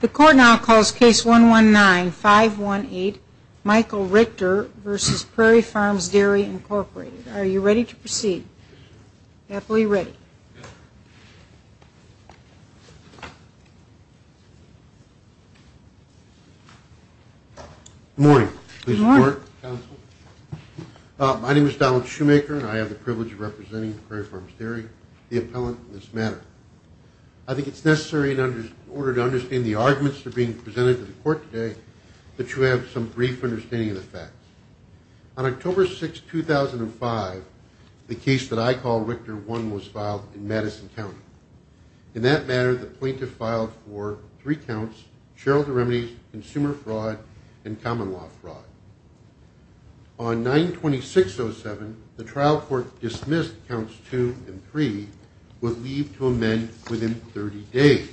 The Court now calls Case 119518, Michael Richter v. Prairie Farms Dairy, Inc. Are you ready to proceed? Happily ready. Good morning. Good morning. My name is Donald Shoemaker, and I have the privilege of representing Prairie Farms Dairy, the appellant in this matter. I think it's necessary in order to understand the arguments that are being presented to the Court today that you have some brief understanding of the facts. On October 6, 2005, the case that I call Richter 1 was filed in Madison County. In that matter, the plaintiff filed for three counts, shareholder remedies, consumer fraud, and common law fraud. On 9-26-07, the trial court dismissed counts 2 and 3 would leave to amend within 30 days.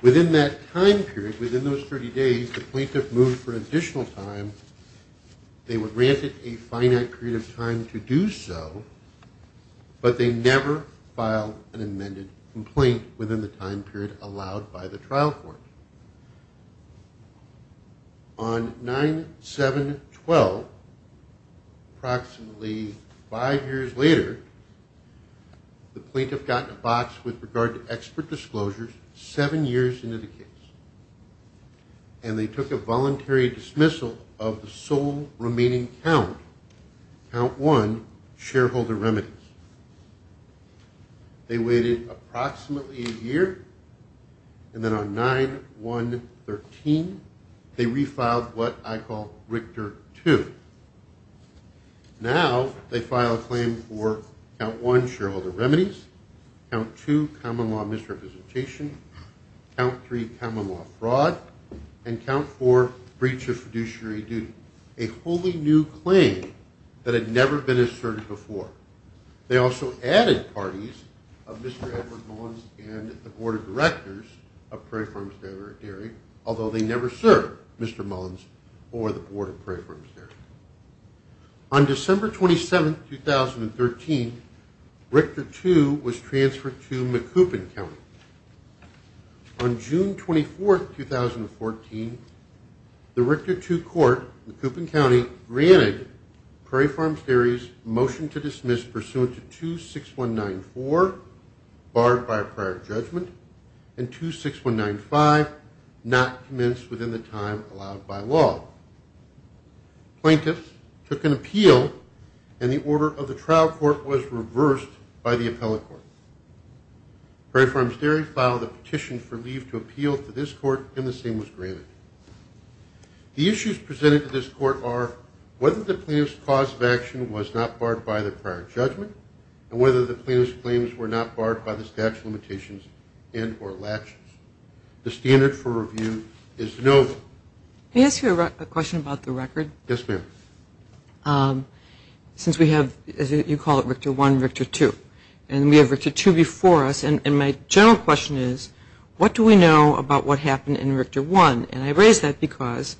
Within that time period, within those 30 days, the plaintiff moved for additional time. They were granted a finite period of time to do so, but they never filed an amended complaint within the time period allowed by the trial court. On 9-7-12, approximately five years later, the plaintiff got in a box with regard to expert disclosures seven years into the case, and they took a voluntary dismissal of the sole remaining count, count 1, shareholder remedies. They waited approximately a year, and then on 9-1-13, they refiled what I call Richter 2. Now, they filed a claim for count 1, shareholder remedies, count 2, common law misrepresentation, count 3, common law fraud, and count 4, breach of fiduciary duty, a wholly new claim that had never been asserted before. They also added parties of Mr. Edward Mullins and the Board of Directors of Prairie Farms Dairy, although they never served Mr. Mullins or the Board of Prairie Farms Dairy. On December 27, 2013, Richter 2 was transferred to Macoupin County. On June 24, 2014, the Richter 2 court in Macoupin County granted Prairie Farms Dairy's motion to dismiss pursuant to 2-6-1-9-4, barred by a prior judgment, and 2-6-1-9-5, not commenced within the time allowed by law. Plaintiffs took an appeal, and the order of the trial court was reversed by the appellate court. Prairie Farms Dairy filed a petition for leave to appeal to this court, and the same was granted. The issues presented to this court are whether the plaintiff's cause of action was not barred by the prior judgment and whether the plaintiff's claims were not barred by the statute of limitations and or elections. The standard for review is no. Can I ask you a question about the record? Yes, ma'am. Since we have, as you call it, Richter 1 and Richter 2, and we have Richter 2 before us, and my general question is, what do we know about what happened in Richter 1? And I raise that because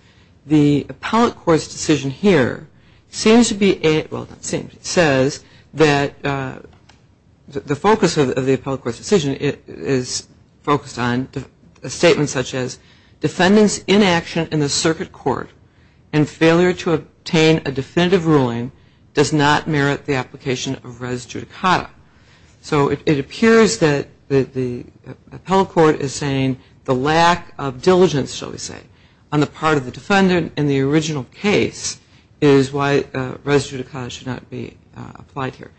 the appellate court's decision here seems to be, well, not seems, it says that the focus of the appellate court's decision is focused on a statement such as failure to obtain a definitive ruling does not merit the application of res judicata. So it appears that the appellate court is saying the lack of diligence, shall we say, on the part of the defendant in the original case is why res judicata should not be applied here.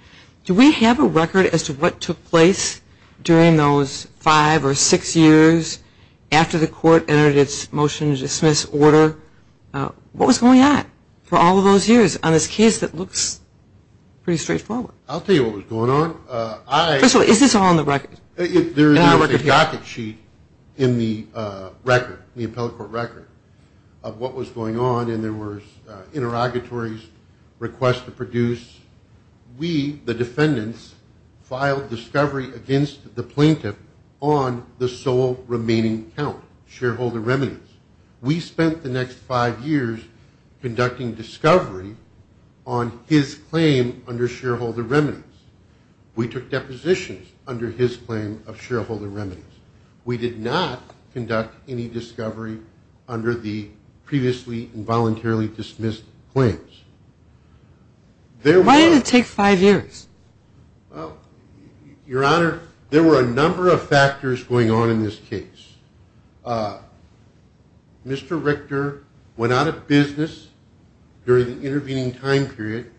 Do we have a record as to what took place during those five or six years after the court entered its motion to dismiss order? What was going on for all of those years on this case that looks pretty straightforward? I'll tell you what was going on. First of all, is this all on the record? There is a docket sheet in the record, the appellate court record, of what was going on, and there was interrogatories, requests to produce. We, the defendants, filed discovery against the plaintiff on the sole remaining count, shareholder remittance. We spent the next five years conducting discovery on his claim under shareholder remittance. We took depositions under his claim of shareholder remittance. We did not conduct any discovery under the previously involuntarily dismissed claims. Why did it take five years? Well, Your Honor, there were a number of factors going on in this case. Mr. Richter went out of business during the intervening time period.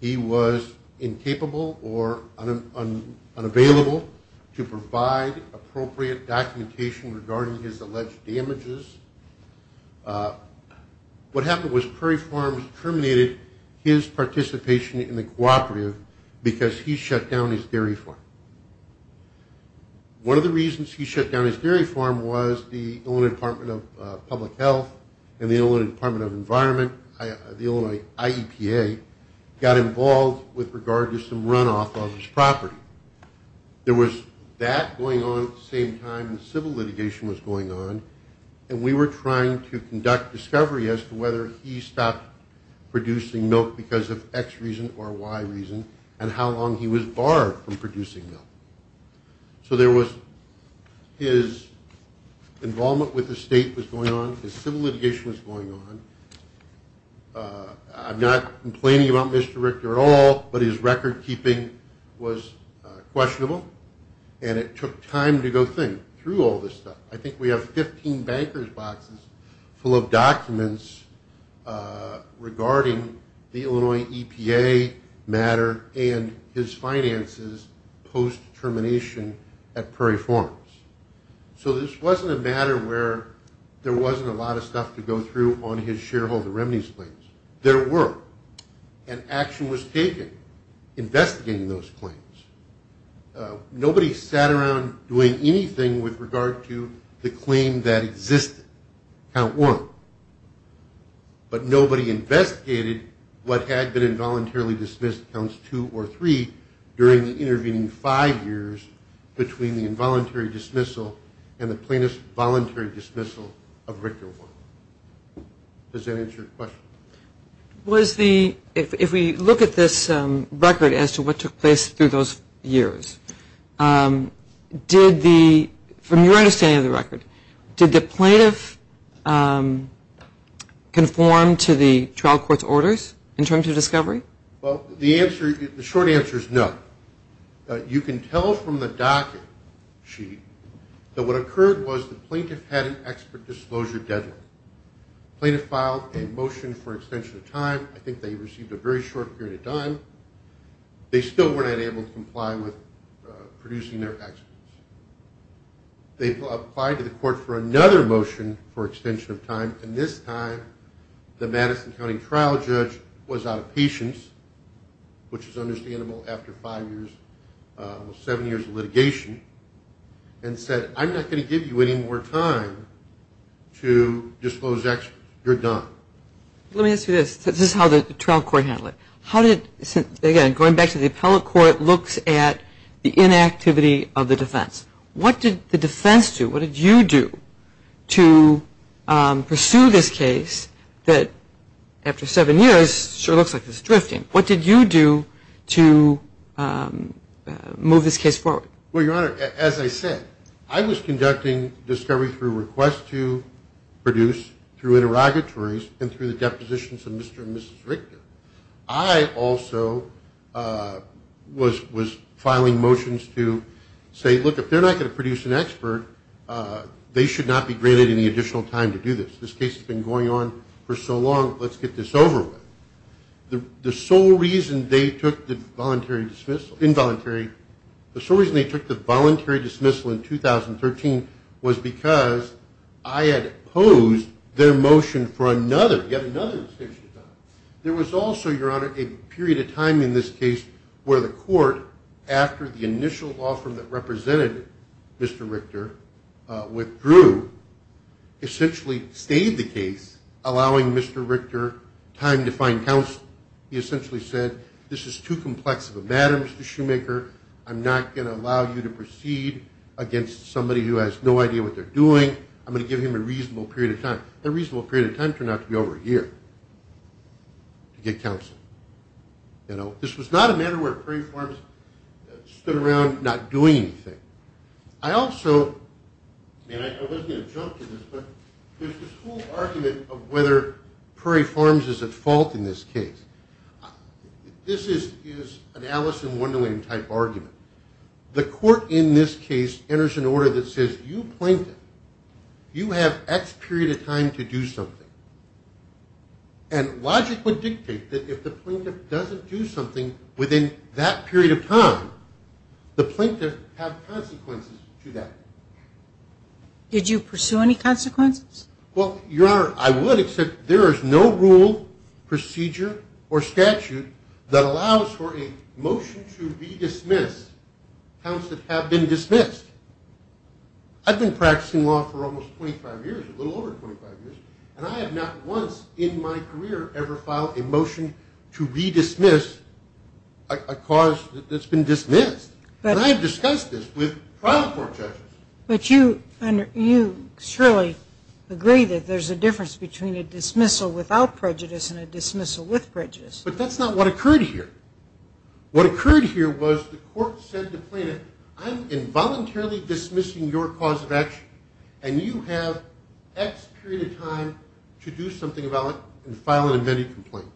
He was incapable or unavailable to provide appropriate documentation regarding his alleged damages. What happened was Prairie Farms terminated his participation in the cooperative because he shut down his dairy farm. One of the reasons he shut down his dairy farm was the Illinois Department of Public Health and the Illinois Department of Environment, the Illinois IEPA, got involved with regard to some runoff of his property. There was that going on at the same time the civil litigation was going on, and we were trying to conduct discovery as to whether he stopped producing milk because of X reason or Y reason and how long he was barred from producing milk. So his involvement with the state was going on. His civil litigation was going on. I'm not complaining about Mr. Richter at all, but his record-keeping was questionable, and it took time to go through all this stuff. I think we have 15 banker's boxes full of documents regarding the Illinois EPA matter and his finances post-termination at Prairie Farms. So this wasn't a matter where there wasn't a lot of stuff to go through on his shareholder remedies claims. There were, and action was taken investigating those claims. Nobody sat around doing anything with regard to the claim that existed, Count Warren, but nobody investigated what had been involuntarily dismissed, Counts 2 or 3, during the intervening five years between the involuntary dismissal and the plaintiff's voluntary dismissal of Richter Warren. Does that answer your question? If we look at this record as to what took place through those years, from your understanding of the record, did the plaintiff conform to the trial court's orders in terms of discovery? Well, the short answer is no. You can tell from the docket sheet that what occurred was the plaintiff had an expert disclosure deadline. The plaintiff filed a motion for extension of time. I think they received a very short period of time. They still were not able to comply with producing their actions. They applied to the court for another motion for extension of time, and this time the Madison County trial judge was out of patience, which is understandable after five years, well, seven years of litigation, and said, I'm not going to give you any more time to disclose actions. You're done. Let me ask you this. This is how the trial court handled it. How did, again, going back to the appellate court, looks at the inactivity of the defense. What did the defense do? What did you do to pursue this case that, after seven years, sure looks like it's drifting? What did you do to move this case forward? Well, Your Honor, as I said, I was conducting discovery through requests to produce, through interrogatories, and through the depositions of Mr. and Mrs. Richter. I also was filing motions to say, look, if they're not going to produce an expert, they should not be granted any additional time to do this. This case has been going on for so long. Let's get this over with. The sole reason they took the voluntary dismissal, involuntary, the sole reason they took the voluntary dismissal in 2013 was because I had opposed their motion for another, yet another extension time. There was also, Your Honor, a period of time in this case where the court, after the initial offer that represented Mr. Richter, withdrew, essentially stayed the case, allowing Mr. Richter time to find counsel. He essentially said, this is too complex of a matter, Mr. Shoemaker. I'm not going to allow you to proceed against somebody who has no idea what they're doing. I'm going to give him a reasonable period of time. That reasonable period of time turned out to be over a year to get counsel. This was not a matter where preforms stood around not doing anything. I also, and I wasn't going to jump to this, but there's this whole argument of whether preforms is at fault in this case. This is an Alice in Wonderland type argument. The court in this case enters an order that says, you plaintiff, you have X period of time to do something. And logic would dictate that if the plaintiff doesn't do something within that period of time, the plaintiff has consequences to that. Did you pursue any consequences? Well, Your Honor, I would, except there is no rule, procedure, or statute that allows for a motion to redismiss counts that have been dismissed. I've been practicing law for almost 25 years, a little over 25 years, and I have not once in my career ever filed a motion to redismiss a cause that's been dismissed. And I have discussed this with trial court judges. But you surely agree that there's a difference between a dismissal without prejudice and a dismissal with prejudice. But that's not what occurred here. What occurred here was the court said to the plaintiff, I'm involuntarily dismissing your cause of action, and you have X period of time to do something about it and file an amended complaint.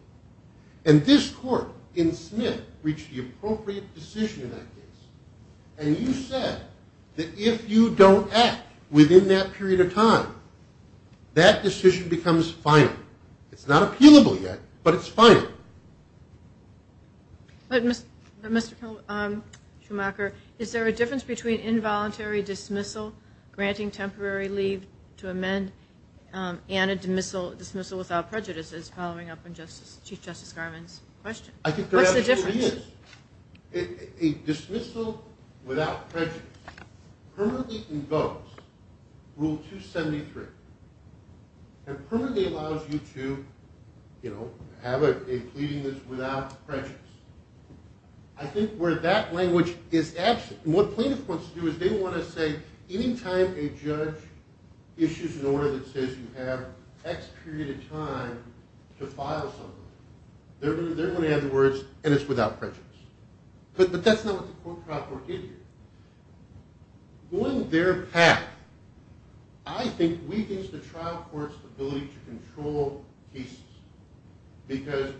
And this court in Smith reached the appropriate decision in that case. And you said that if you don't act within that period of time, that decision becomes final. It's not appealable yet, but it's final. But Mr. Schumacher, is there a difference between involuntary dismissal, granting temporary leave to amend, and a dismissal without prejudice as following up on Chief Justice Garvin's question? I think there absolutely is. What's the difference? A dismissal without prejudice permanently invokes Rule 273 and permanently allows you to have a pleading that's without prejudice. I think where that language is absent, and what plaintiffs want to do is they want to say any time a judge issues an order that says you have X period of time to file something, they're going to add the words, and it's without prejudice. But that's not what the court trial court did here. Going their path, I think, weakens the trial court's ability to control cases. Because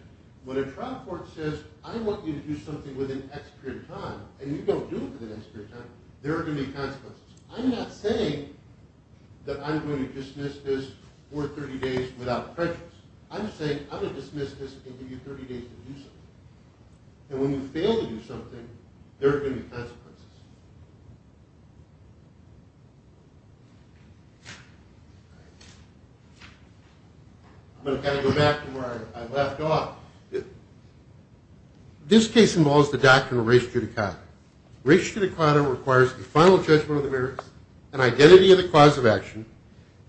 when a trial court says, I want you to do something within X period of time, and you don't do it within X period of time, there are going to be consequences. I'm not saying that I'm going to dismiss this for 30 days without prejudice. I'm saying I'm going to dismiss this and give you 30 days to do something. And when you fail to do something, there are going to be consequences. I'm going to kind of go back to where I left off. This case involves the doctrine of res judicata. Res judicata requires a final judgment of the merits, an identity of the cause of action,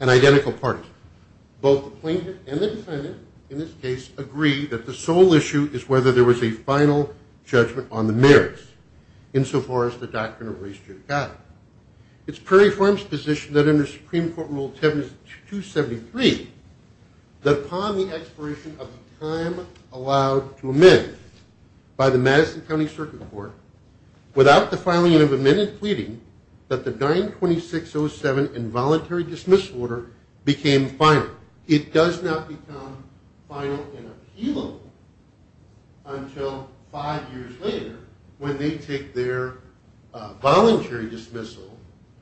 and identical parties. Both the plaintiff and the defendant, in this case, agree that the sole issue is whether there was a final judgment on the merits, insofar as the doctrine of res judicata. It's Perry Farms' position that under Supreme Court Rule 7273, that upon the expiration of the time allowed to amend by the Madison County Circuit Court, without the filing of amended pleading, that the 926.07 involuntary dismissal order became final. It does not become final and appealable until five years later, when they take their voluntary dismissal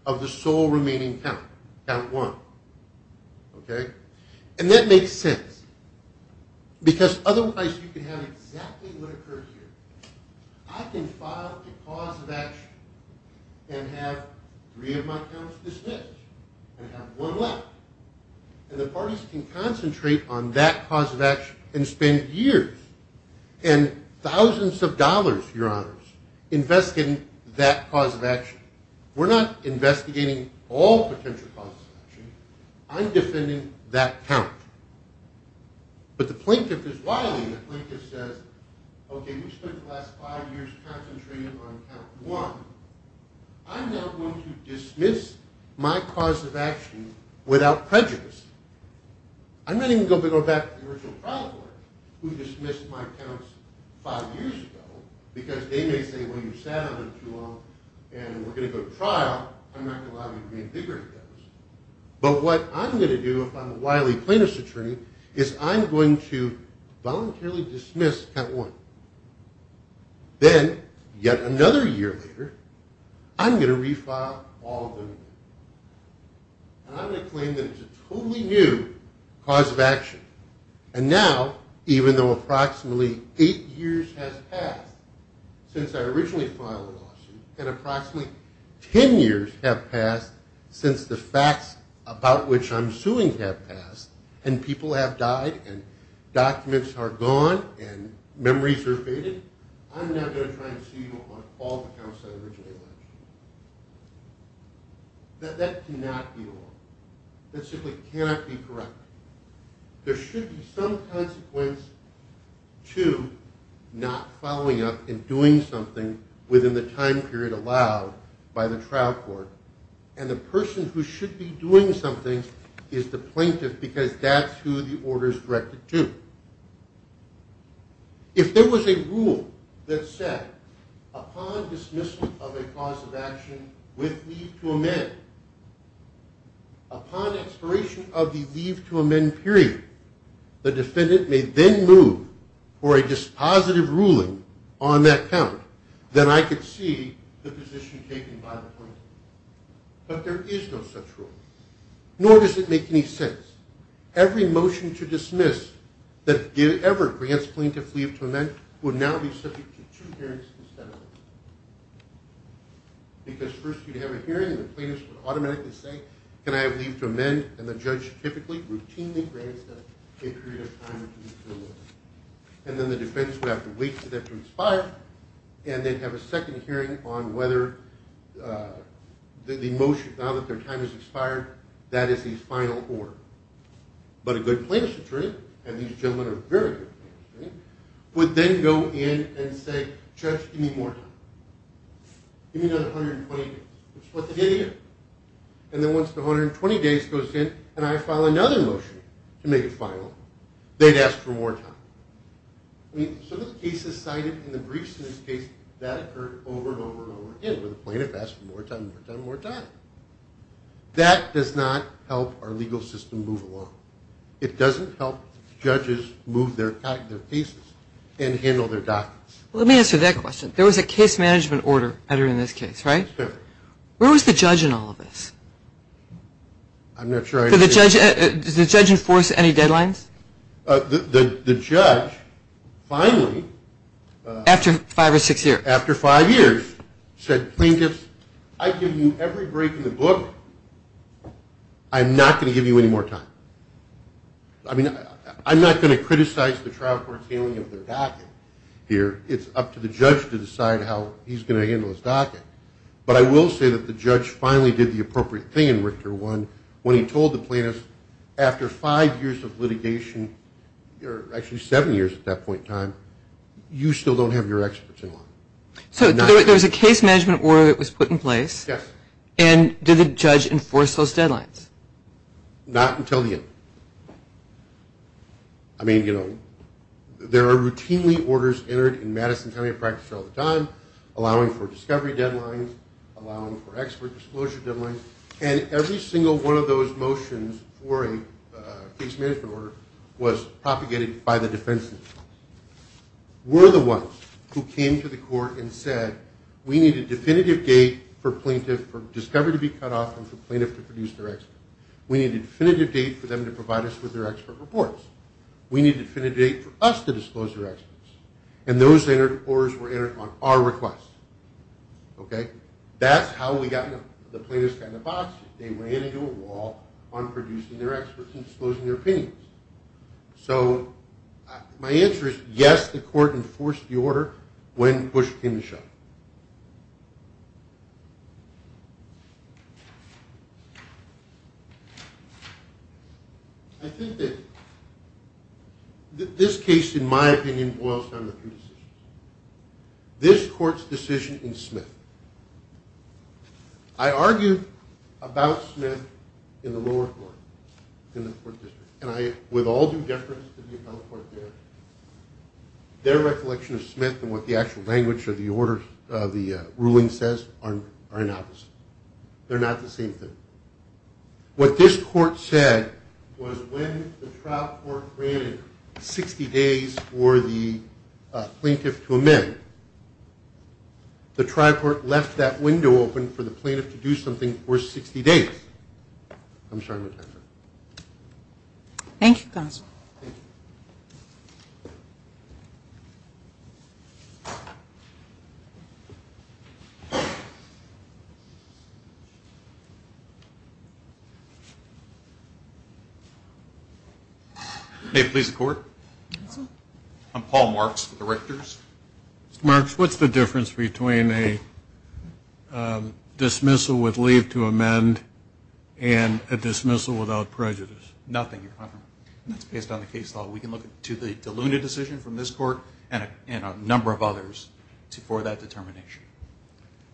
of the sole remaining count, count one. And that makes sense, because otherwise you can have exactly what occurs here. I can file the cause of action and have three of my counts dismissed and have one left. And the parties can concentrate on that cause of action and spend years and thousands of dollars, your honors, investigating that cause of action. We're not investigating all potential causes of action. I'm defending that count. But the plaintiff is wiling. The plaintiff says, okay, we've spent the last five years concentrating on count one. I'm now going to dismiss my cause of action without prejudice. I'm not even going to go back to the original trial court, who dismissed my counts five years ago, because they may say, well, you sat on them too long and we're going to go to trial. I'm not going to allow you to make bigger of those. But what I'm going to do, if I'm a wily plaintiff's attorney, is I'm going to voluntarily dismiss count one. Then, yet another year later, I'm going to refile all of them. And I'm going to claim that it's a totally new cause of action. And now, even though approximately eight years has passed since I originally filed the lawsuit and approximately ten years have passed since the facts about which I'm suing have passed and people have died and documents are gone and memories are faded, I'm now going to try and sue you on all the counts that I originally filed. That cannot be wrong. That simply cannot be correct. There should be some consequence to not following up and doing something within the time period allowed by the trial court. And the person who should be doing something is the plaintiff because that's who the order is directed to. If there was a rule that said, upon dismissal of a cause of action with leave to amend, upon expiration of the leave to amend period, the defendant may then move for a dispositive ruling on that count, then I could see the position taken by the plaintiff. But there is no such rule. Nor does it make any sense. Every motion to dismiss that ever grants plaintiff leave to amend would now be subject to two hearings instead of one. Because first you'd have a hearing and the plaintiff would automatically say, can I have leave to amend? And the judge typically routinely grants them a period of time to do so. And then the defense would have to wait for them to expire, and they'd have a second hearing on whether the motion, now that their time has expired, that is his final order. But a good plaintiff's attorney, and these gentlemen are very good plaintiffs, would then go in and say, Judge, give me more time. Give me another 120 days. Which is what they did again. And then once the 120 days goes in and I file another motion to make it final, they'd ask for more time. I mean, some of the cases cited in the briefs in this case, that occurred over and over and over again where the plaintiff asked for more time, more time, more time. That does not help our legal system move along. It doesn't help judges move their cases and handle their documents. Let me answer that question. There was a case management order entered in this case, right? Where was the judge in all of this? I'm not sure I understand. Does the judge enforce any deadlines? The judge finally. After five or six years. After five years said, Plaintiffs, I give you every break in the book. I'm not going to give you any more time. I mean, I'm not going to criticize the trial court's dealing of their docket here. It's up to the judge to decide how he's going to handle his docket. But I will say that the judge finally did the appropriate thing in Richter 1 when he told the plaintiffs, after five years of litigation, or actually seven years at that point in time, you still don't have your experts in law. So there was a case management order that was put in place. Yes. And did the judge enforce those deadlines? Not until the end. I mean, you know, there are routinely orders entered in Madison County allowing for discovery deadlines, allowing for expert disclosure deadlines, and every single one of those motions for a case management order was propagated by the defense. We're the ones who came to the court and said, we need a definitive date for plaintiff discovery to be cut off and for plaintiff to produce their expert. We need a definitive date for them to provide us with their expert reports. We need a definitive date for us to disclose their experts. And those orders were entered on our request. Okay? That's how we got the plaintiffs kind of boxed. They ran into a wall on producing their experts and disclosing their opinions. So my answer is yes, the court enforced the order when Bush came to show. I think that this case, in my opinion, boils down to two decisions. This court's decision in Smith. I argued about Smith in the lower court, in the court district, and I would all do deference to the appellate court there. Their recollection of Smith and what the actual language of the ruling says are inopposite. They're not the same thing. What this court said was when the trial court ran 60 days for the plaintiff to amend, the trial court left that window open for the plaintiff to do something for 60 days. I'm sorry. Thank you, counsel. May it please the court? Counsel? Mr. Marks, what's the difference between a dismissal with leave to amend and a dismissal without prejudice? Nothing, Your Honor. That's based on the case law. We can look to the Deluna decision from this court and a number of others for that determination.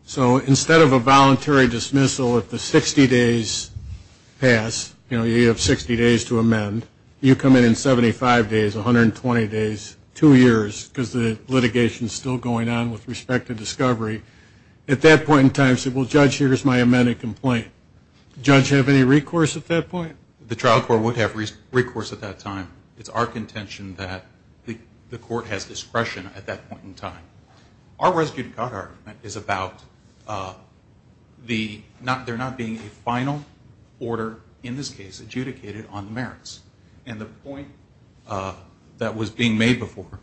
So instead of a voluntary dismissal if the 60 days pass, you know, you have 60 days to amend, you come in in 75 days, 120 days, two years, because the litigation is still going on with respect to discovery, at that point in time say, well, Judge, here's my amended complaint. Would the judge have any recourse at that point? The trial court would have recourse at that time. It's our contention that the court has discretion at that point in time. Our residue to court argument is about there not being a final order, in this case, adjudicated on the merits. And the point that was being made before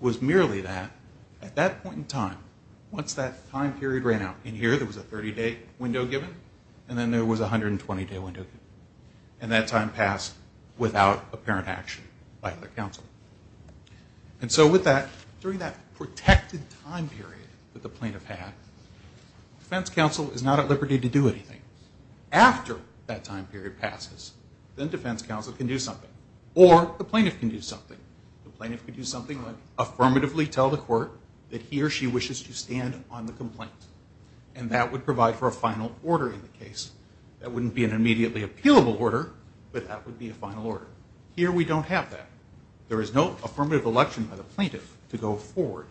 was merely that at that point in time, once that time period ran out, in here there was a 30-day window given, and then there was a 120-day window given. And that time passed without apparent action by the counsel. And so with that, during that protected time period that the plaintiff had, defense counsel is not at liberty to do anything. After that time period passes, then defense counsel can do something, or the plaintiff can do something. The plaintiff can do something like affirmatively tell the court that he or she wishes to stand on the complaint, and that would provide for a final order in the case. That wouldn't be an immediately appealable order, but that would be a final order. Here we don't have that. There is no affirmative election by the plaintiff to go forward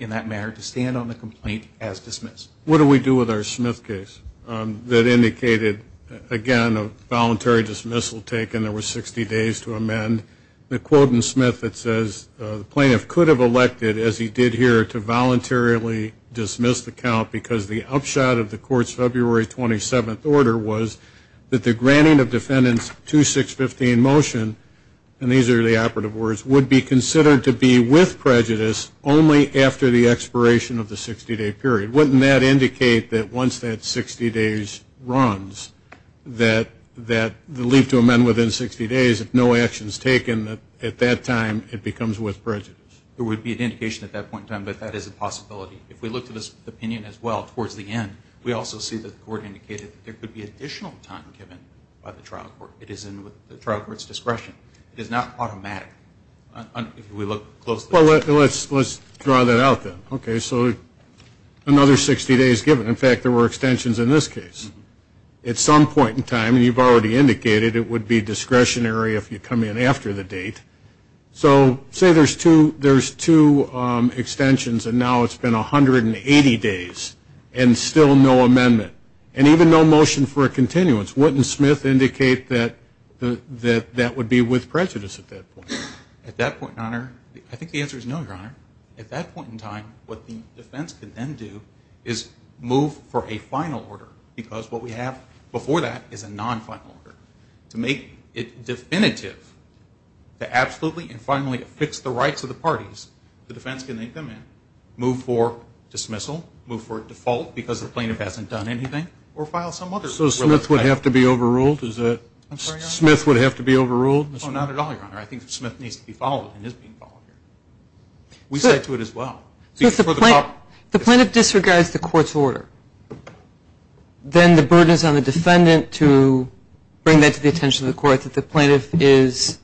in that matter, to stand on the complaint as dismissed. What do we do with our Smith case that indicated, again, a voluntary dismissal taken. There were 60 days to amend. The quote in Smith that says the plaintiff could have elected, as he did here, to voluntarily dismiss the count because the upshot of the court's February 27th order was that the granting of defendant's 2615 motion, and these are the operative words, would be considered to be with prejudice only after the expiration of the 60-day period. Wouldn't that indicate that once that 60 days runs, that the leave to amend within 60 days, if no action is taken, that at that time it becomes with prejudice? There would be an indication at that point in time, but that is a possibility. If we look to this opinion as well, towards the end, we also see that the court indicated that there could be additional time given by the trial court. It is in the trial court's discretion. It is not automatic. If we look closely. Well, let's draw that out then. Okay, so another 60 days given. In fact, there were extensions in this case. At some point in time, and you've already indicated, it would be discretionary if you come in after the date. So say there's two extensions and now it's been 180 days and still no amendment, and even no motion for a continuance. Wouldn't Smith indicate that that would be with prejudice at that point? At that point in time, I think the answer is no, Your Honor. At that point in time, what the defense could then do is move for a final order because what we have before that is a non-final order. To make it definitive, to absolutely and finally fix the rights of the parties, the defense can make them move for dismissal, move for default because the plaintiff hasn't done anything, or file some other. So Smith would have to be overruled? I'm sorry, Your Honor? Smith would have to be overruled? No, not at all, Your Honor. I think Smith needs to be followed and is being followed. We said to it as well. If the plaintiff disregards the court's order, then the burden is on the defendant to bring that to the attention of the court that the plaintiff is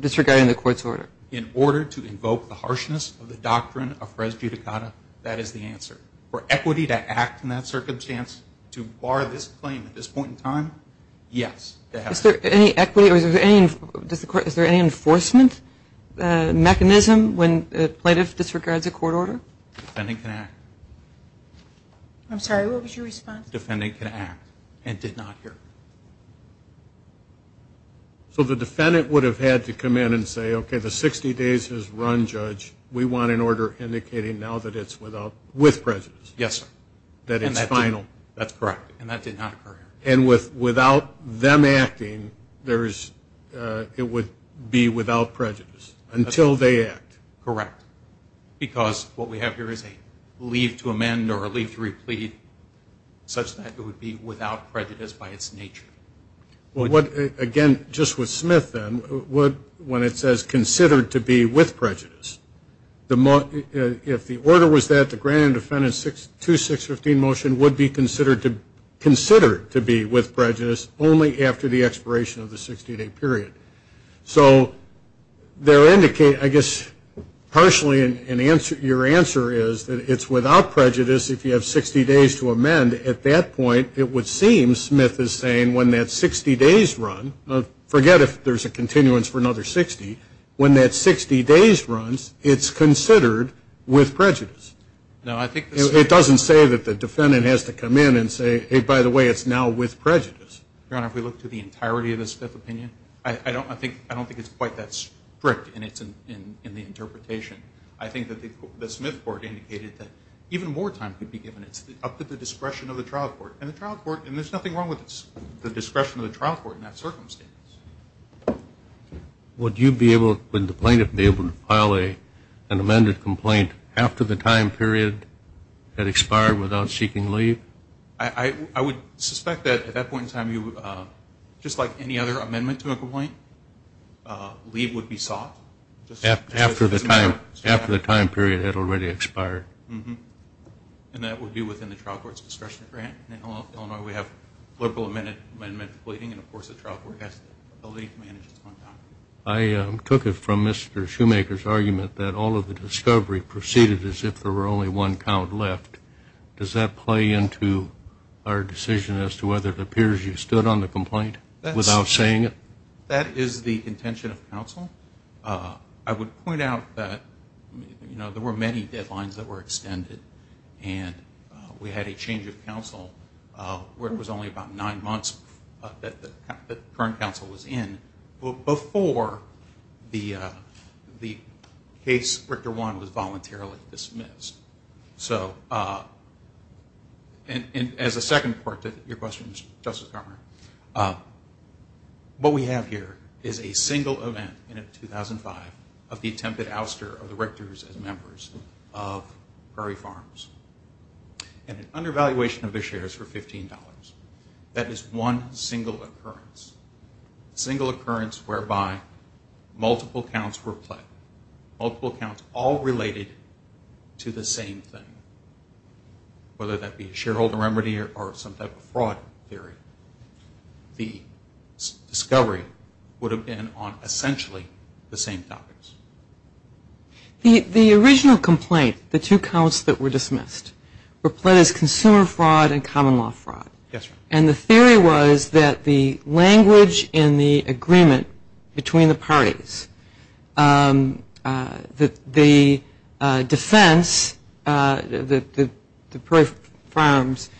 disregarding the court's order. In order to invoke the harshness of the doctrine of res judicata, that is the answer. For equity to act in that circumstance, to bar this claim at this point in time, yes. Is there any enforcement mechanism when the plaintiff disregards a court order? The defendant can act. I'm sorry, what was your response? The defendant can act and did not occur. So the defendant would have had to come in and say, okay, the 60 days has run, Judge. We want an order indicating now that it's with prejudice. Yes, sir. That it's final. That's correct, and that did not occur. And without them acting, it would be without prejudice until they act. Correct. Because what we have here is a leave to amend or a leave to replead such that it would be without prejudice by its nature. Again, just with Smith then, when it says considered to be with prejudice, if the order was that the grand defendant's 2-6-15 motion would be considered to be with prejudice only after the expiration of the 60-day period. So there indicate, I guess, partially your answer is that it's without prejudice if you have 60 days to amend. At that point, it would seem, Smith is saying, when that 60 days run, forget if there's a continuance for another 60, when that 60 days runs, it's considered with prejudice. It doesn't say that the defendant has to come in and say, hey, by the way, it's now with prejudice. Your Honor, if we look to the entirety of the Smith opinion, I don't think it's quite that strict in the interpretation. I think that the Smith court indicated that even more time could be given up to the discretion of the trial court. And the trial court, and there's nothing wrong with the discretion of the trial court in that circumstance. Would you be able, would the plaintiff be able to file an amended complaint after the time period had expired without seeking leave? I would suspect that at that point in time, just like any other amendment to a complaint, leave would be sought. After the time period had already expired. And that would be within the trial court's discretionary grant. In Illinois, we have liberal amendment pleading, and, of course, the trial court has the ability to manage its own time. I took it from Mr. Shoemaker's argument that all of the discovery proceeded as if there were only one count left. Does that play into our decision as to whether it appears you stood on the complaint without saying it? That is the intention of counsel. I would point out that, you know, there were many deadlines that were extended. And we had a change of counsel where it was only about nine months that the current counsel was in before the case, Richter 1, was voluntarily dismissed. So, as a second part to your question, Justice Carmer, what we have here is a single event in 2005 of the attempted ouster of the Richters as members of Curry Farms. And an undervaluation of their shares for $15. That is one single occurrence. Single occurrence whereby multiple counts were pled. Multiple counts all related to the same thing, whether that be shareholder remedy or some type of fraud theory. The discovery would have been on essentially the same topics. The original complaint, the two counts that were dismissed, were pled as consumer fraud and common law fraud. Yes, Your Honor. And the theory was that the language in the agreement between the parties, the defense, the Curry Farms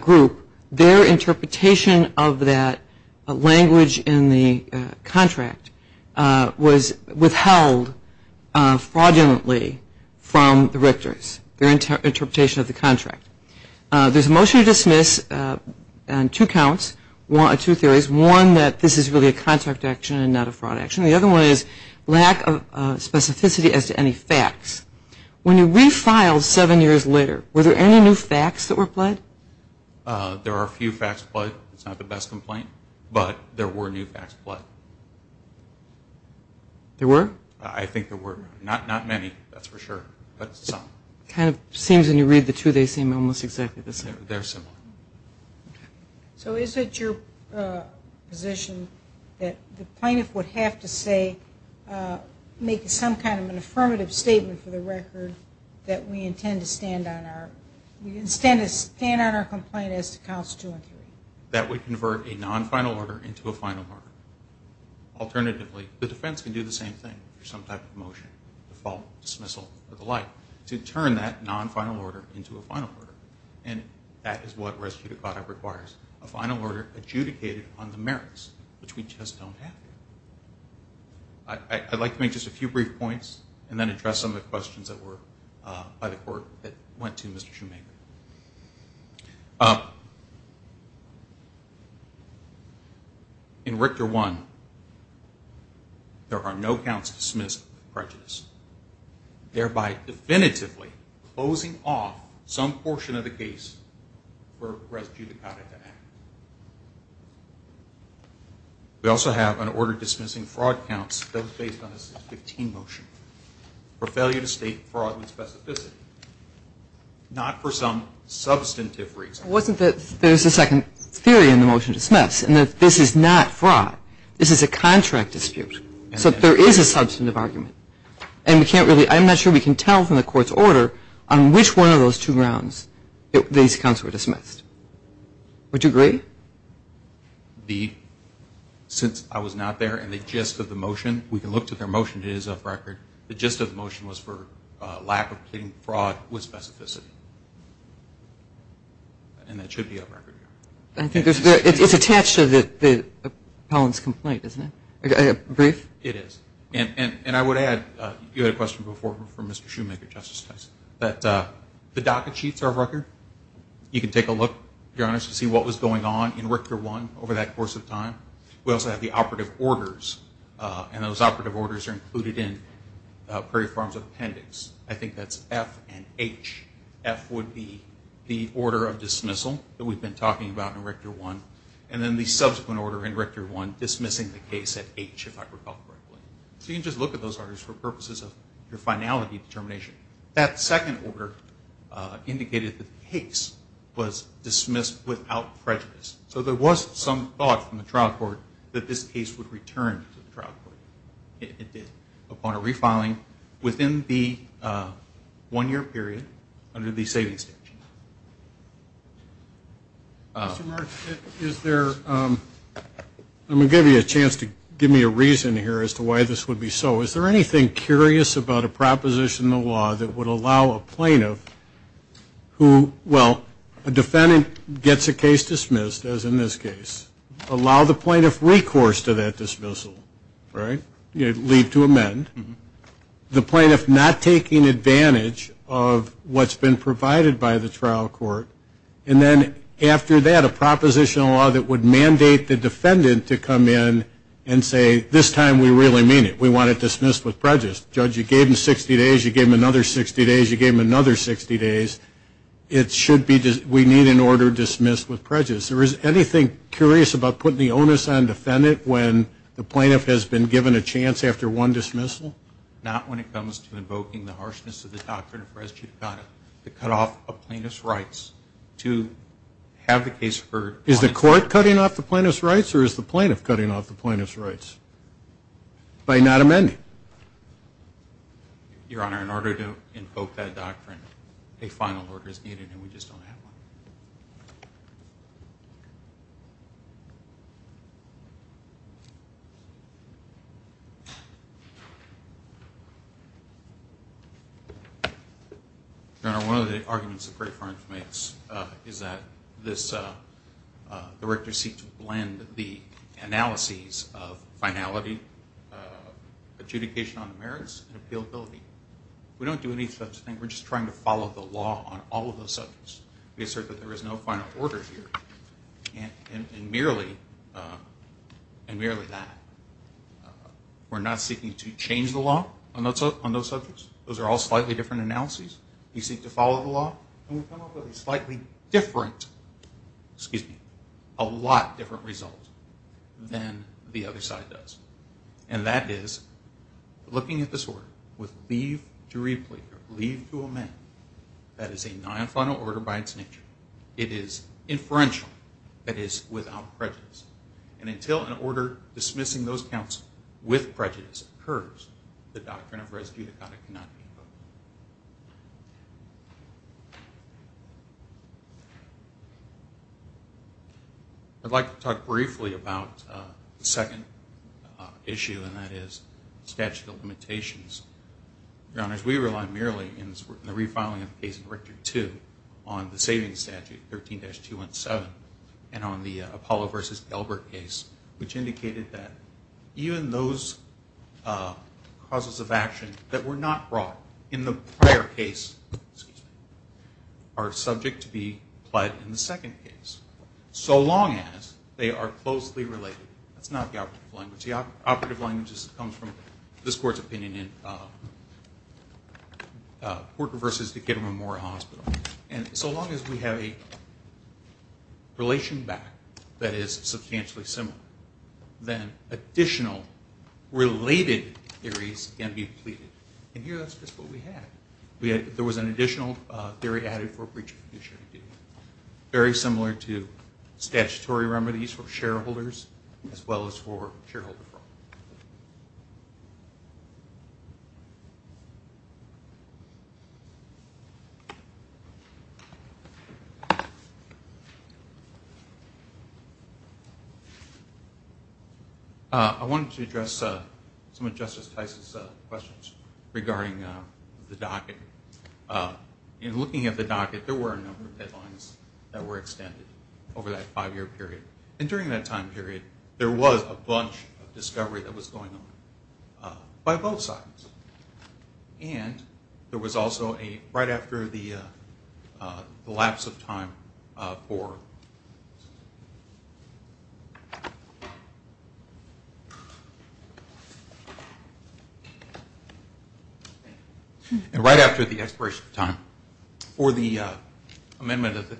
group, their interpretation of that language in the contract was withheld fraudulently from the Richters, their interpretation of the contract. There's a motion to dismiss on two counts, two theories. One that this is really a contract action and not a fraud action. The other one is lack of specificity as to any facts. When you refiled seven years later, were there any new facts that were pled? There are a few facts pled. It's not the best complaint, but there were new facts pled. There were? I think there were. Not many, that's for sure, but some. It kind of seems when you read the two, they seem almost exactly the same. They're similar. Okay. So is it your position that the plaintiff would have to say, make some kind of an affirmative statement for the record, that we intend to stand on our complaint as to counts two and three? That would convert a non-final order into a final order. Alternatively, the defense can do the same thing for some type of motion, default, dismissal, or the like. To turn that non-final order into a final order. And that is what res judicata requires. A final order adjudicated on the merits, which we just don't have here. I'd like to make just a few brief points, and then address some of the questions that were by the court that went to Mr. Shoemaker. In Richter 1, there are no counts dismissed with prejudice, thereby definitively closing off some portion of the case for res judicata to act. We also have an order dismissing fraud counts, those based on the 615 motion, for failure to state fraud with specificity. Not for some substantive reason. It wasn't that there's a second theory in the motion to dismiss, and that this is not fraud. This is a contract dispute. So there is a substantive argument. And we can't really, I'm not sure we can tell from the court's order, on which one of those two rounds these counts were dismissed. Would you agree? The, since I was not there, and the gist of the motion, we can look to their motion, the gist of the motion was for lack of completing fraud with specificity. And that should be up record. It's attached to the appellant's complaint, isn't it? Brief? It is. And I would add, you had a question before from Mr. Shoemaker, Justice Tyson, that the docket sheets are up record. You can take a look, if you're honest, to see what was going on in Richter 1 over that course of time. We also have the operative orders, and those operative orders are included in Prairie Farms Appendix. I think that's F and H. F would be the order of dismissal that we've been talking about in Richter 1, and then the subsequent order in Richter 1 dismissing the case at H, if I recall correctly. So you can just look at those orders for purposes of your finality determination. That second order indicated the case was dismissed without prejudice. So there was some thought from the trial court that this case would return to the trial court. It did, upon a refiling within the one-year period under the savings statute. Mr. Marsh, is there – I'm going to give you a chance to give me a reason here as to why this would be so. Is there anything curious about a proposition in the law that would allow a plaintiff who – well, a defendant gets a case dismissed, as in this case, allow the plaintiff recourse to that dismissal, right, leave to amend, the plaintiff not taking advantage of what's been provided by the trial court, and then after that, a proposition in the law that would mandate the defendant to come in and say, this time we really mean it. We want it dismissed with prejudice. Judge, you gave him 60 days, you gave him another 60 days, you gave him another 60 days. It should be – we need an order dismissed with prejudice. Is there anything curious about putting the onus on the defendant when the plaintiff has been given a chance after one dismissal? Not when it comes to invoking the harshness of the doctrine of res judicata to cut off a plaintiff's rights to have the case heard. Is the court cutting off the plaintiff's rights or is the plaintiff cutting off the plaintiff's rights by not amending? Your Honor, in order to invoke that doctrine, a final order is needed and we just don't have one. Your Honor, one of the arguments that Gray Farms makes is that this director seeks to blend the analyses of finality, adjudication on the merits, and appealability. We don't do any such thing. We're just trying to follow the law on all of those subjects. We assert that there is no final order here and merely that. We're not seeking to change the law on those subjects. Those are all slightly different analyses. We seek to follow the law and we come up with a slightly different – excuse me, a lot different result than the other side does. And that is, looking at this order with leave to reappear, leave to amend, that is a non-final order by its nature. It is inferential. It is without prejudice. And until an order dismissing those counts with prejudice occurs, the doctrine of res judicata cannot be invoked. I'd like to talk briefly about the second issue, and that is statute of limitations. Your Honors, we rely merely in the refiling of the case in Rector 2 on the saving statute, 13-217, and on the Apollo v. Elbert case, which indicated that even those causes of action that were not brought in the prior case are subject to be applied in the second case, so long as they are closely related. That's not the operative language. It comes from this Court's opinion in Port v. Ketterman Memorial Hospital. And so long as we have a relation back that is substantially similar, then additional related theories can be depleted. And here that's just what we had. There was an additional theory added for breach of condition, very similar to statutory remedies for shareholders as well as for shareholders. I wanted to address some of Justice Tice's questions regarding the docket. In looking at the docket, there were a number of headlines that were extended over that five-year period. And during that time period, there was a bunch of discovery that was going on by both sides. And there was also right after the lapse of time for the amendment of the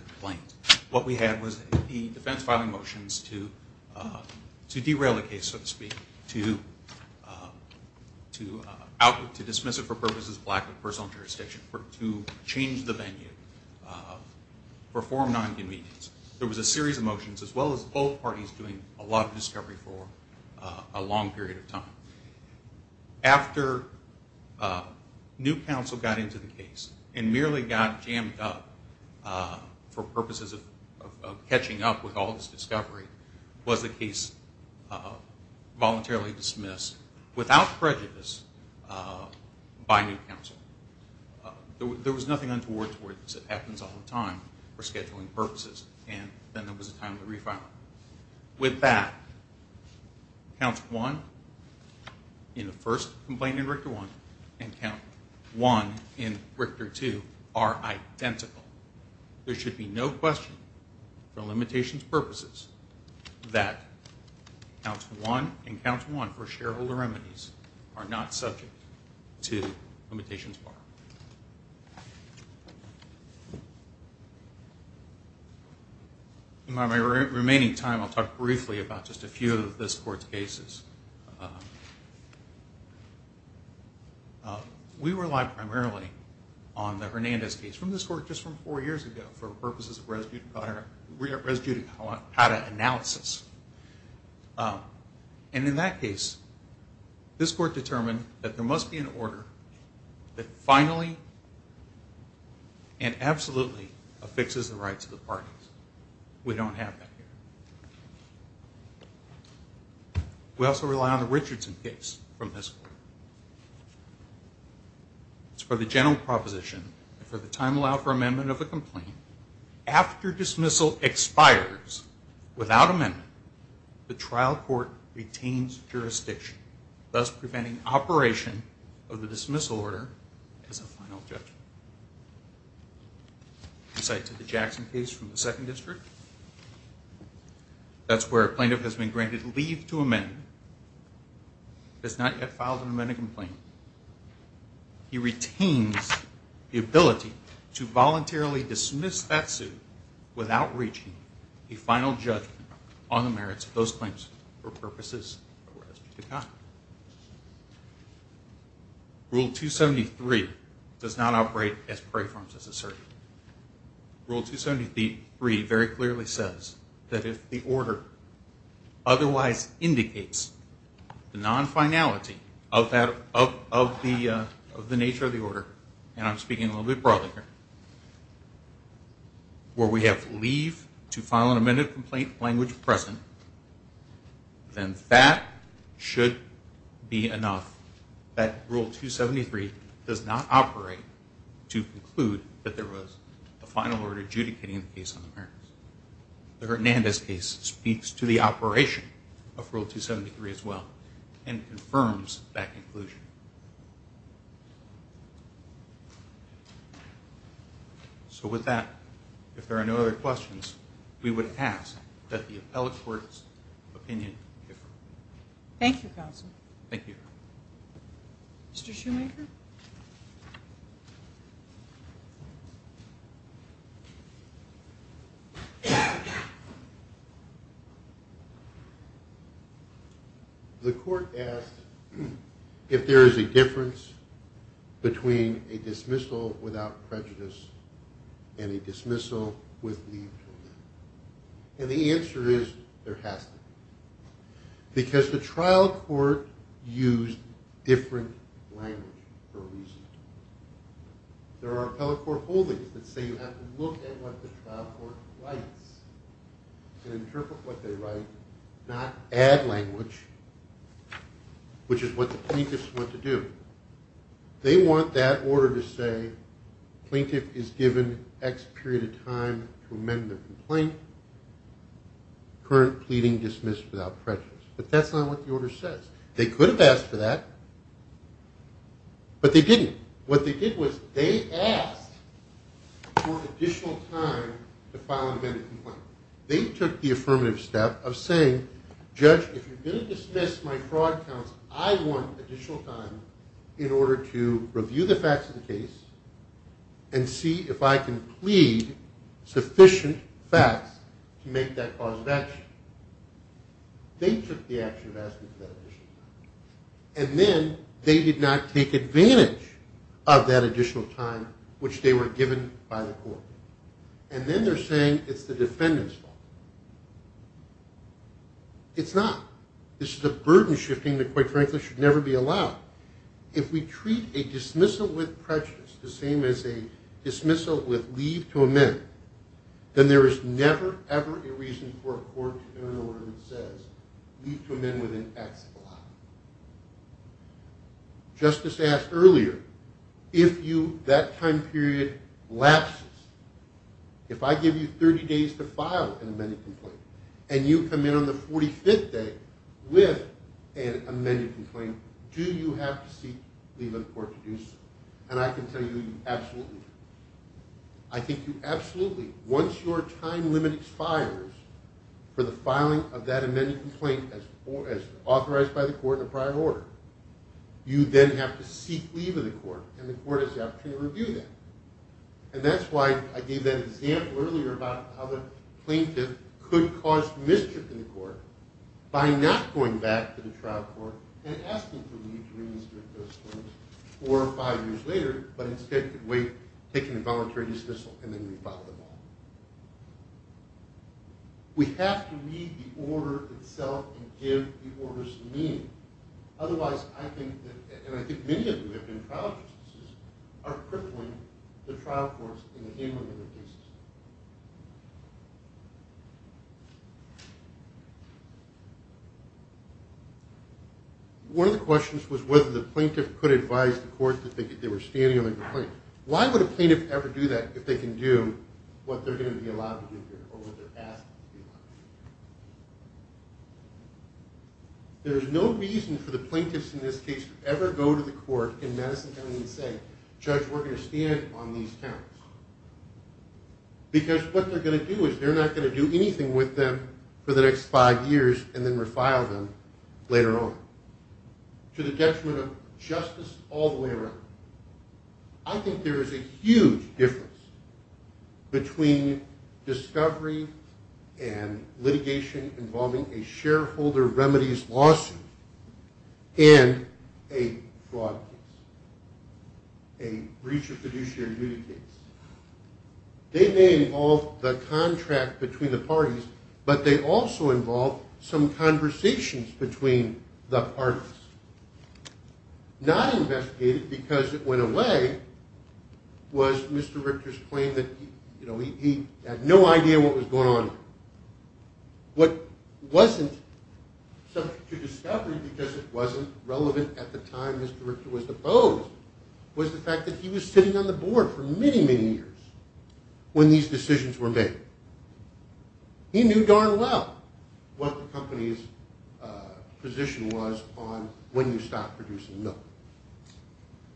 motions to derail the case, so to speak, to dismiss it for purposes of lack of personal jurisdiction, to change the venue, perform non-convenience. There was a series of motions, as well as both parties doing a lot of discovery for a long period of time. After new counsel got into the case and merely got jammed up for purposes of catching up with all this discovery, was the case voluntarily dismissed without prejudice by new counsel. There was nothing untoward towards it. It happens all the time for scheduling purposes. And then there was a time to refile it. With that, Counsel 1 in the first complaint in Richter 1 and Counsel 1 in Richter 2 are identical. There should be no question, for limitations purposes, that Counsel 1 and Counsel 1 for shareholder remedies are not subject to limitations bar. In my remaining time, I'll talk briefly about just a few of this Court's cases. We rely primarily on the Hernandez case from this Court just from four years ago for purposes of res judicata analysis. And in that case, this Court determined that there must be an order that finally and absolutely affixes the rights of the parties. We don't have that here. We also rely on the Richardson case from this Court. It's for the general proposition, and for the time allowed for amendment of the complaint, after dismissal expires without amendment, the trial court retains jurisdiction, thus preventing operation of the dismissal order as a final judgment. The Jackson case from the Second District, that's where a plaintiff has been granted leave to amend, has not yet filed an amendment complaint. He retains the ability to voluntarily dismiss that suit without reaching a final judgment on the merits of those claims for purposes of res judicata. Rule 273 does not operate as preforms as asserted. Rule 273 very clearly says that if the order otherwise indicates the non-finality of the nature of the order, and I'm speaking a little bit broadly here, where we have leave to file an amended complaint language present, then that should be enough. That Rule 273 does not operate to conclude that there was a final order adjudicating the case on the merits. The Hernandez case speaks to the operation of Rule 273 as well and confirms that conclusion. So with that, if there are no other questions, we would ask that the appellate court's opinion be heard. Thank you, counsel. Thank you. Mr. Shoemaker? The court asked if there is a difference between a dismissal without prejudice and a dismissal with leave to live. And the answer is there has to be, because the trial court used different language for a reason. There are appellate court holdings that say you have to look at what the trial court writes and interpret what they write, not add language, which is what the plaintiffs want to do. They want that order to say plaintiff is given X period of time to amend the complaint, current pleading dismissed without prejudice. But that's not what the order says. They could have asked for that, but they didn't. What they did was they asked for additional time to file an amended complaint. They took the affirmative step of saying, judge, if you're going to dismiss my fraud counts, I want additional time in order to review the facts of the case and see if I can plead sufficient facts to make that cause of action. They took the action of asking for that additional time. And then they did not take advantage of that additional time, which they were given by the court. And then they're saying it's the defendant's fault. It's not. This is a burden shifting that, quite frankly, should never be allowed. If we treat a dismissal with prejudice the same as a dismissal with leave to amend, then there is never, ever a reason for a court to enter an order that says leave to amend with an X allowed. Justice asked earlier, if that time period lapses, if I give you 30 days to file an amended complaint and you come in on the 45th day with an amended complaint, do you have to seek leave of the court to do so? And I can tell you, you absolutely do. I think you absolutely do. Once your time limit expires for the filing of that amended complaint as authorized by the court in a prior order, you then have to seek leave of the court, and the court has the opportunity to review that. And that's why I gave that example earlier about how the plaintiff could cause mischief in the court by not going back to the trial court and asking for leave to reinstate those claims four or five years later, but instead could wait, take an involuntary dismissal, and then refile the law. We have to read the order itself and give the orders meaning. Otherwise, I think that, and I think many of you have been trial justices, are crippling the trial courts in the handling of the cases. One of the questions was whether the plaintiff could advise the court that they were standing on a complaint. Why would a plaintiff ever do that if they can do what they're going to be allowed to do or what they're asked to do? There is no reason for the plaintiffs in this case to ever go to the court in Madison County and say, judge, we're going to stand on these counts. Because what they're going to do is they're not going to do anything with them for the next five years and then refile them later on. To the detriment of justice all the way around, I think there is a huge difference between discovery and litigation involving a shareholder remedies lawsuit and a fraud case, a breach of fiduciary duty case. They may involve the contract between the parties, but they also involve some conversations between the parties. Not investigated because it went away was Mr. Richter's claim that he had no idea what was going on here. What wasn't subject to discovery because it wasn't relevant at the time Mr. Richter was deposed was the fact that he was sitting on the board for many, many years when these decisions were made. He knew darn well what the company's position was on when you stop producing milk.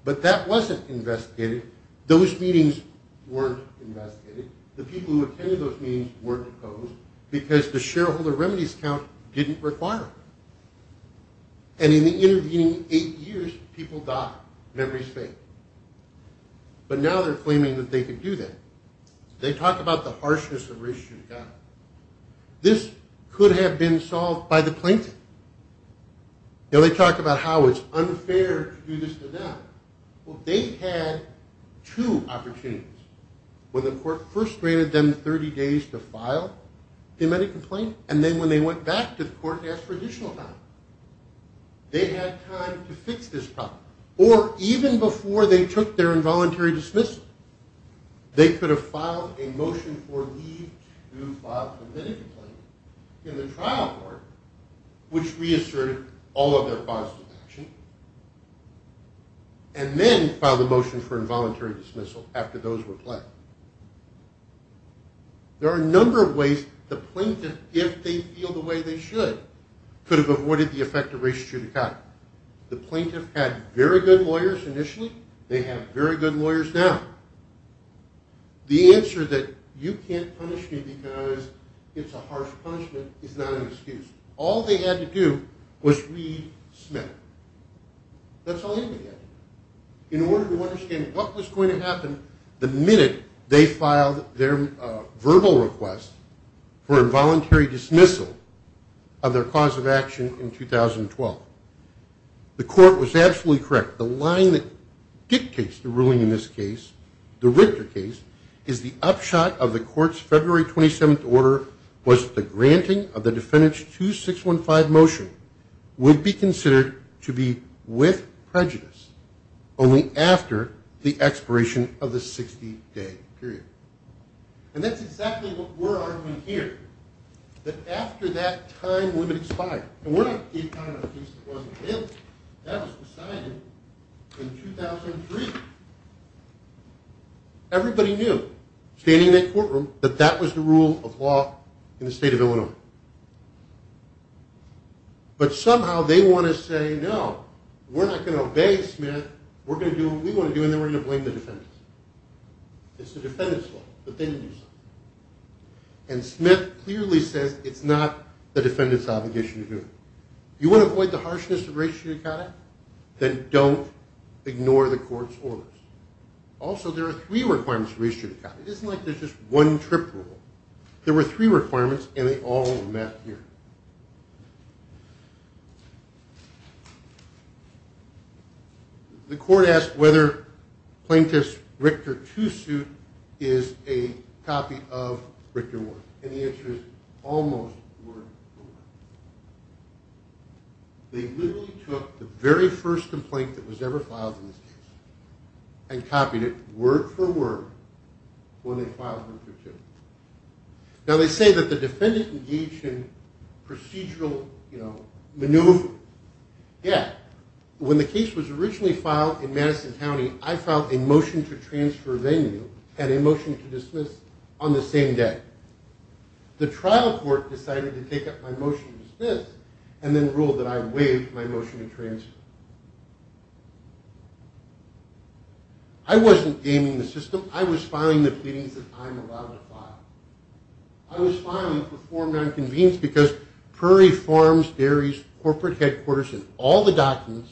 But that wasn't investigated. Those meetings weren't investigated. The people who attended those meetings weren't deposed because the shareholder remedies count didn't require it. And in the intervening eight years people docked Memories Faith. But now they're claiming that they could do that. They talk about the harshness of race-issue accounting. This could have been solved by the plaintiff. They talk about how it's unfair to do this to them. Well, they had two opportunities. When the court first granted them 30 days to file the amended complaint and then when they went back to the court to ask for additional time. They had time to fix this problem. Or even before they took their involuntary dismissal, they could have filed a motion for leave to file the amended complaint in the trial court, which reasserted all of their positive action, and then filed a motion for involuntary dismissal after those were played. There are a number of ways the plaintiff, if they feel the way they should, could have avoided the effect of race-issue accounting. The plaintiff had very good lawyers initially. They have very good lawyers now. The answer that you can't punish me because it's a harsh punishment is not an excuse. All they had to do was read Smith. That's all anybody had to do in order to understand what was going to happen the minute they filed their verbal request for involuntary dismissal of their cause of action in 2012. The court was absolutely correct. The line that dictates the ruling in this case, the Richter case, is the upshot of the court's February 27th order was the granting of the Defendant's 2615 motion would be considered to be with prejudice only after the expiration of the 60-day period. And that's exactly what we're arguing here, that after that time limit expired. And we're not saying it wasn't there. That was decided in 2003. Everybody knew, standing in that courtroom, that that was the rule of law in the state of Illinois. But somehow they want to say, no, we're not going to obey Smith. We're going to do what we want to do, and then we're going to blame the Defendants. It's the Defendants' fault, but they didn't do something. And Smith clearly says it's not the Defendants' obligation to do it. If you want to avoid the harshness of race judicata, then don't ignore the court's orders. Also, there are three requirements for race judicata. It isn't like there's just one trip rule. There were three requirements, and they all met here. The court asked whether Plaintiff's Richter II suit is a copy of Richter I. And the answer is almost word for word. They literally took the very first complaint that was ever filed in this case and copied it word for word when they filed Richter II. Now, they say that the Defendant engaged in procedural maneuver. Yeah. When the case was originally filed in Madison County, I filed a motion to transfer venue and a motion to dismiss on the same day. The trial court decided to take up my motion to dismiss and then ruled that I waived my motion to transfer. I wasn't gaming the system. I was filing the pleadings that I'm allowed to file. I was filing for form nonconvenience because Prairie Farms Dairy's corporate headquarters and all the documents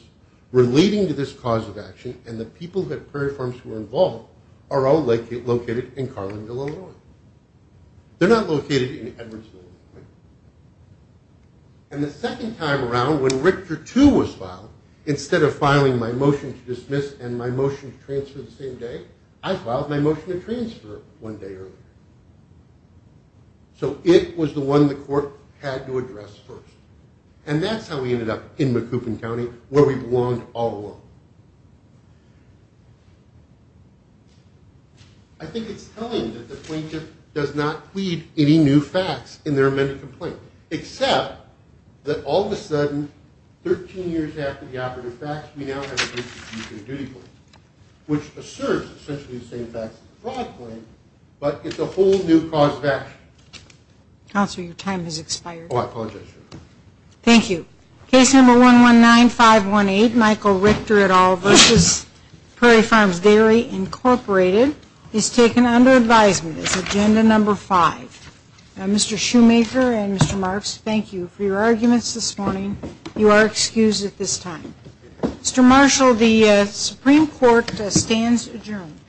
relating to this cause of action and the people at Prairie Farms who were involved are all located in Carlingville, Illinois. They're not located in Edwardsville, Illinois. And the second time around when Richter II was filed, instead of filing my motion to dismiss and my motion to transfer the same day, I filed my motion to transfer one day earlier. So it was the one the court had to address first. And that's how we ended up in Macoupin County where we belonged all along. I think it's telling that the plaintiff does not plead any new facts in their amended complaint except that all of a sudden, 13 years after the operative facts, we now have a case of mutual duty claim, which asserts essentially the same facts as the fraud claim, but it's a whole new cause of action. Counselor, your time has expired. Thank you. Case number 119518, Michael Richter et al. v. Prairie Farms Dairy, Incorporated, is taken under advisement as agenda number five. Mr. Shoemaker and Mr. Marks, thank you for your arguments this morning. You are excused at this time. Mr. Marshall, the Supreme Court stands adjourned.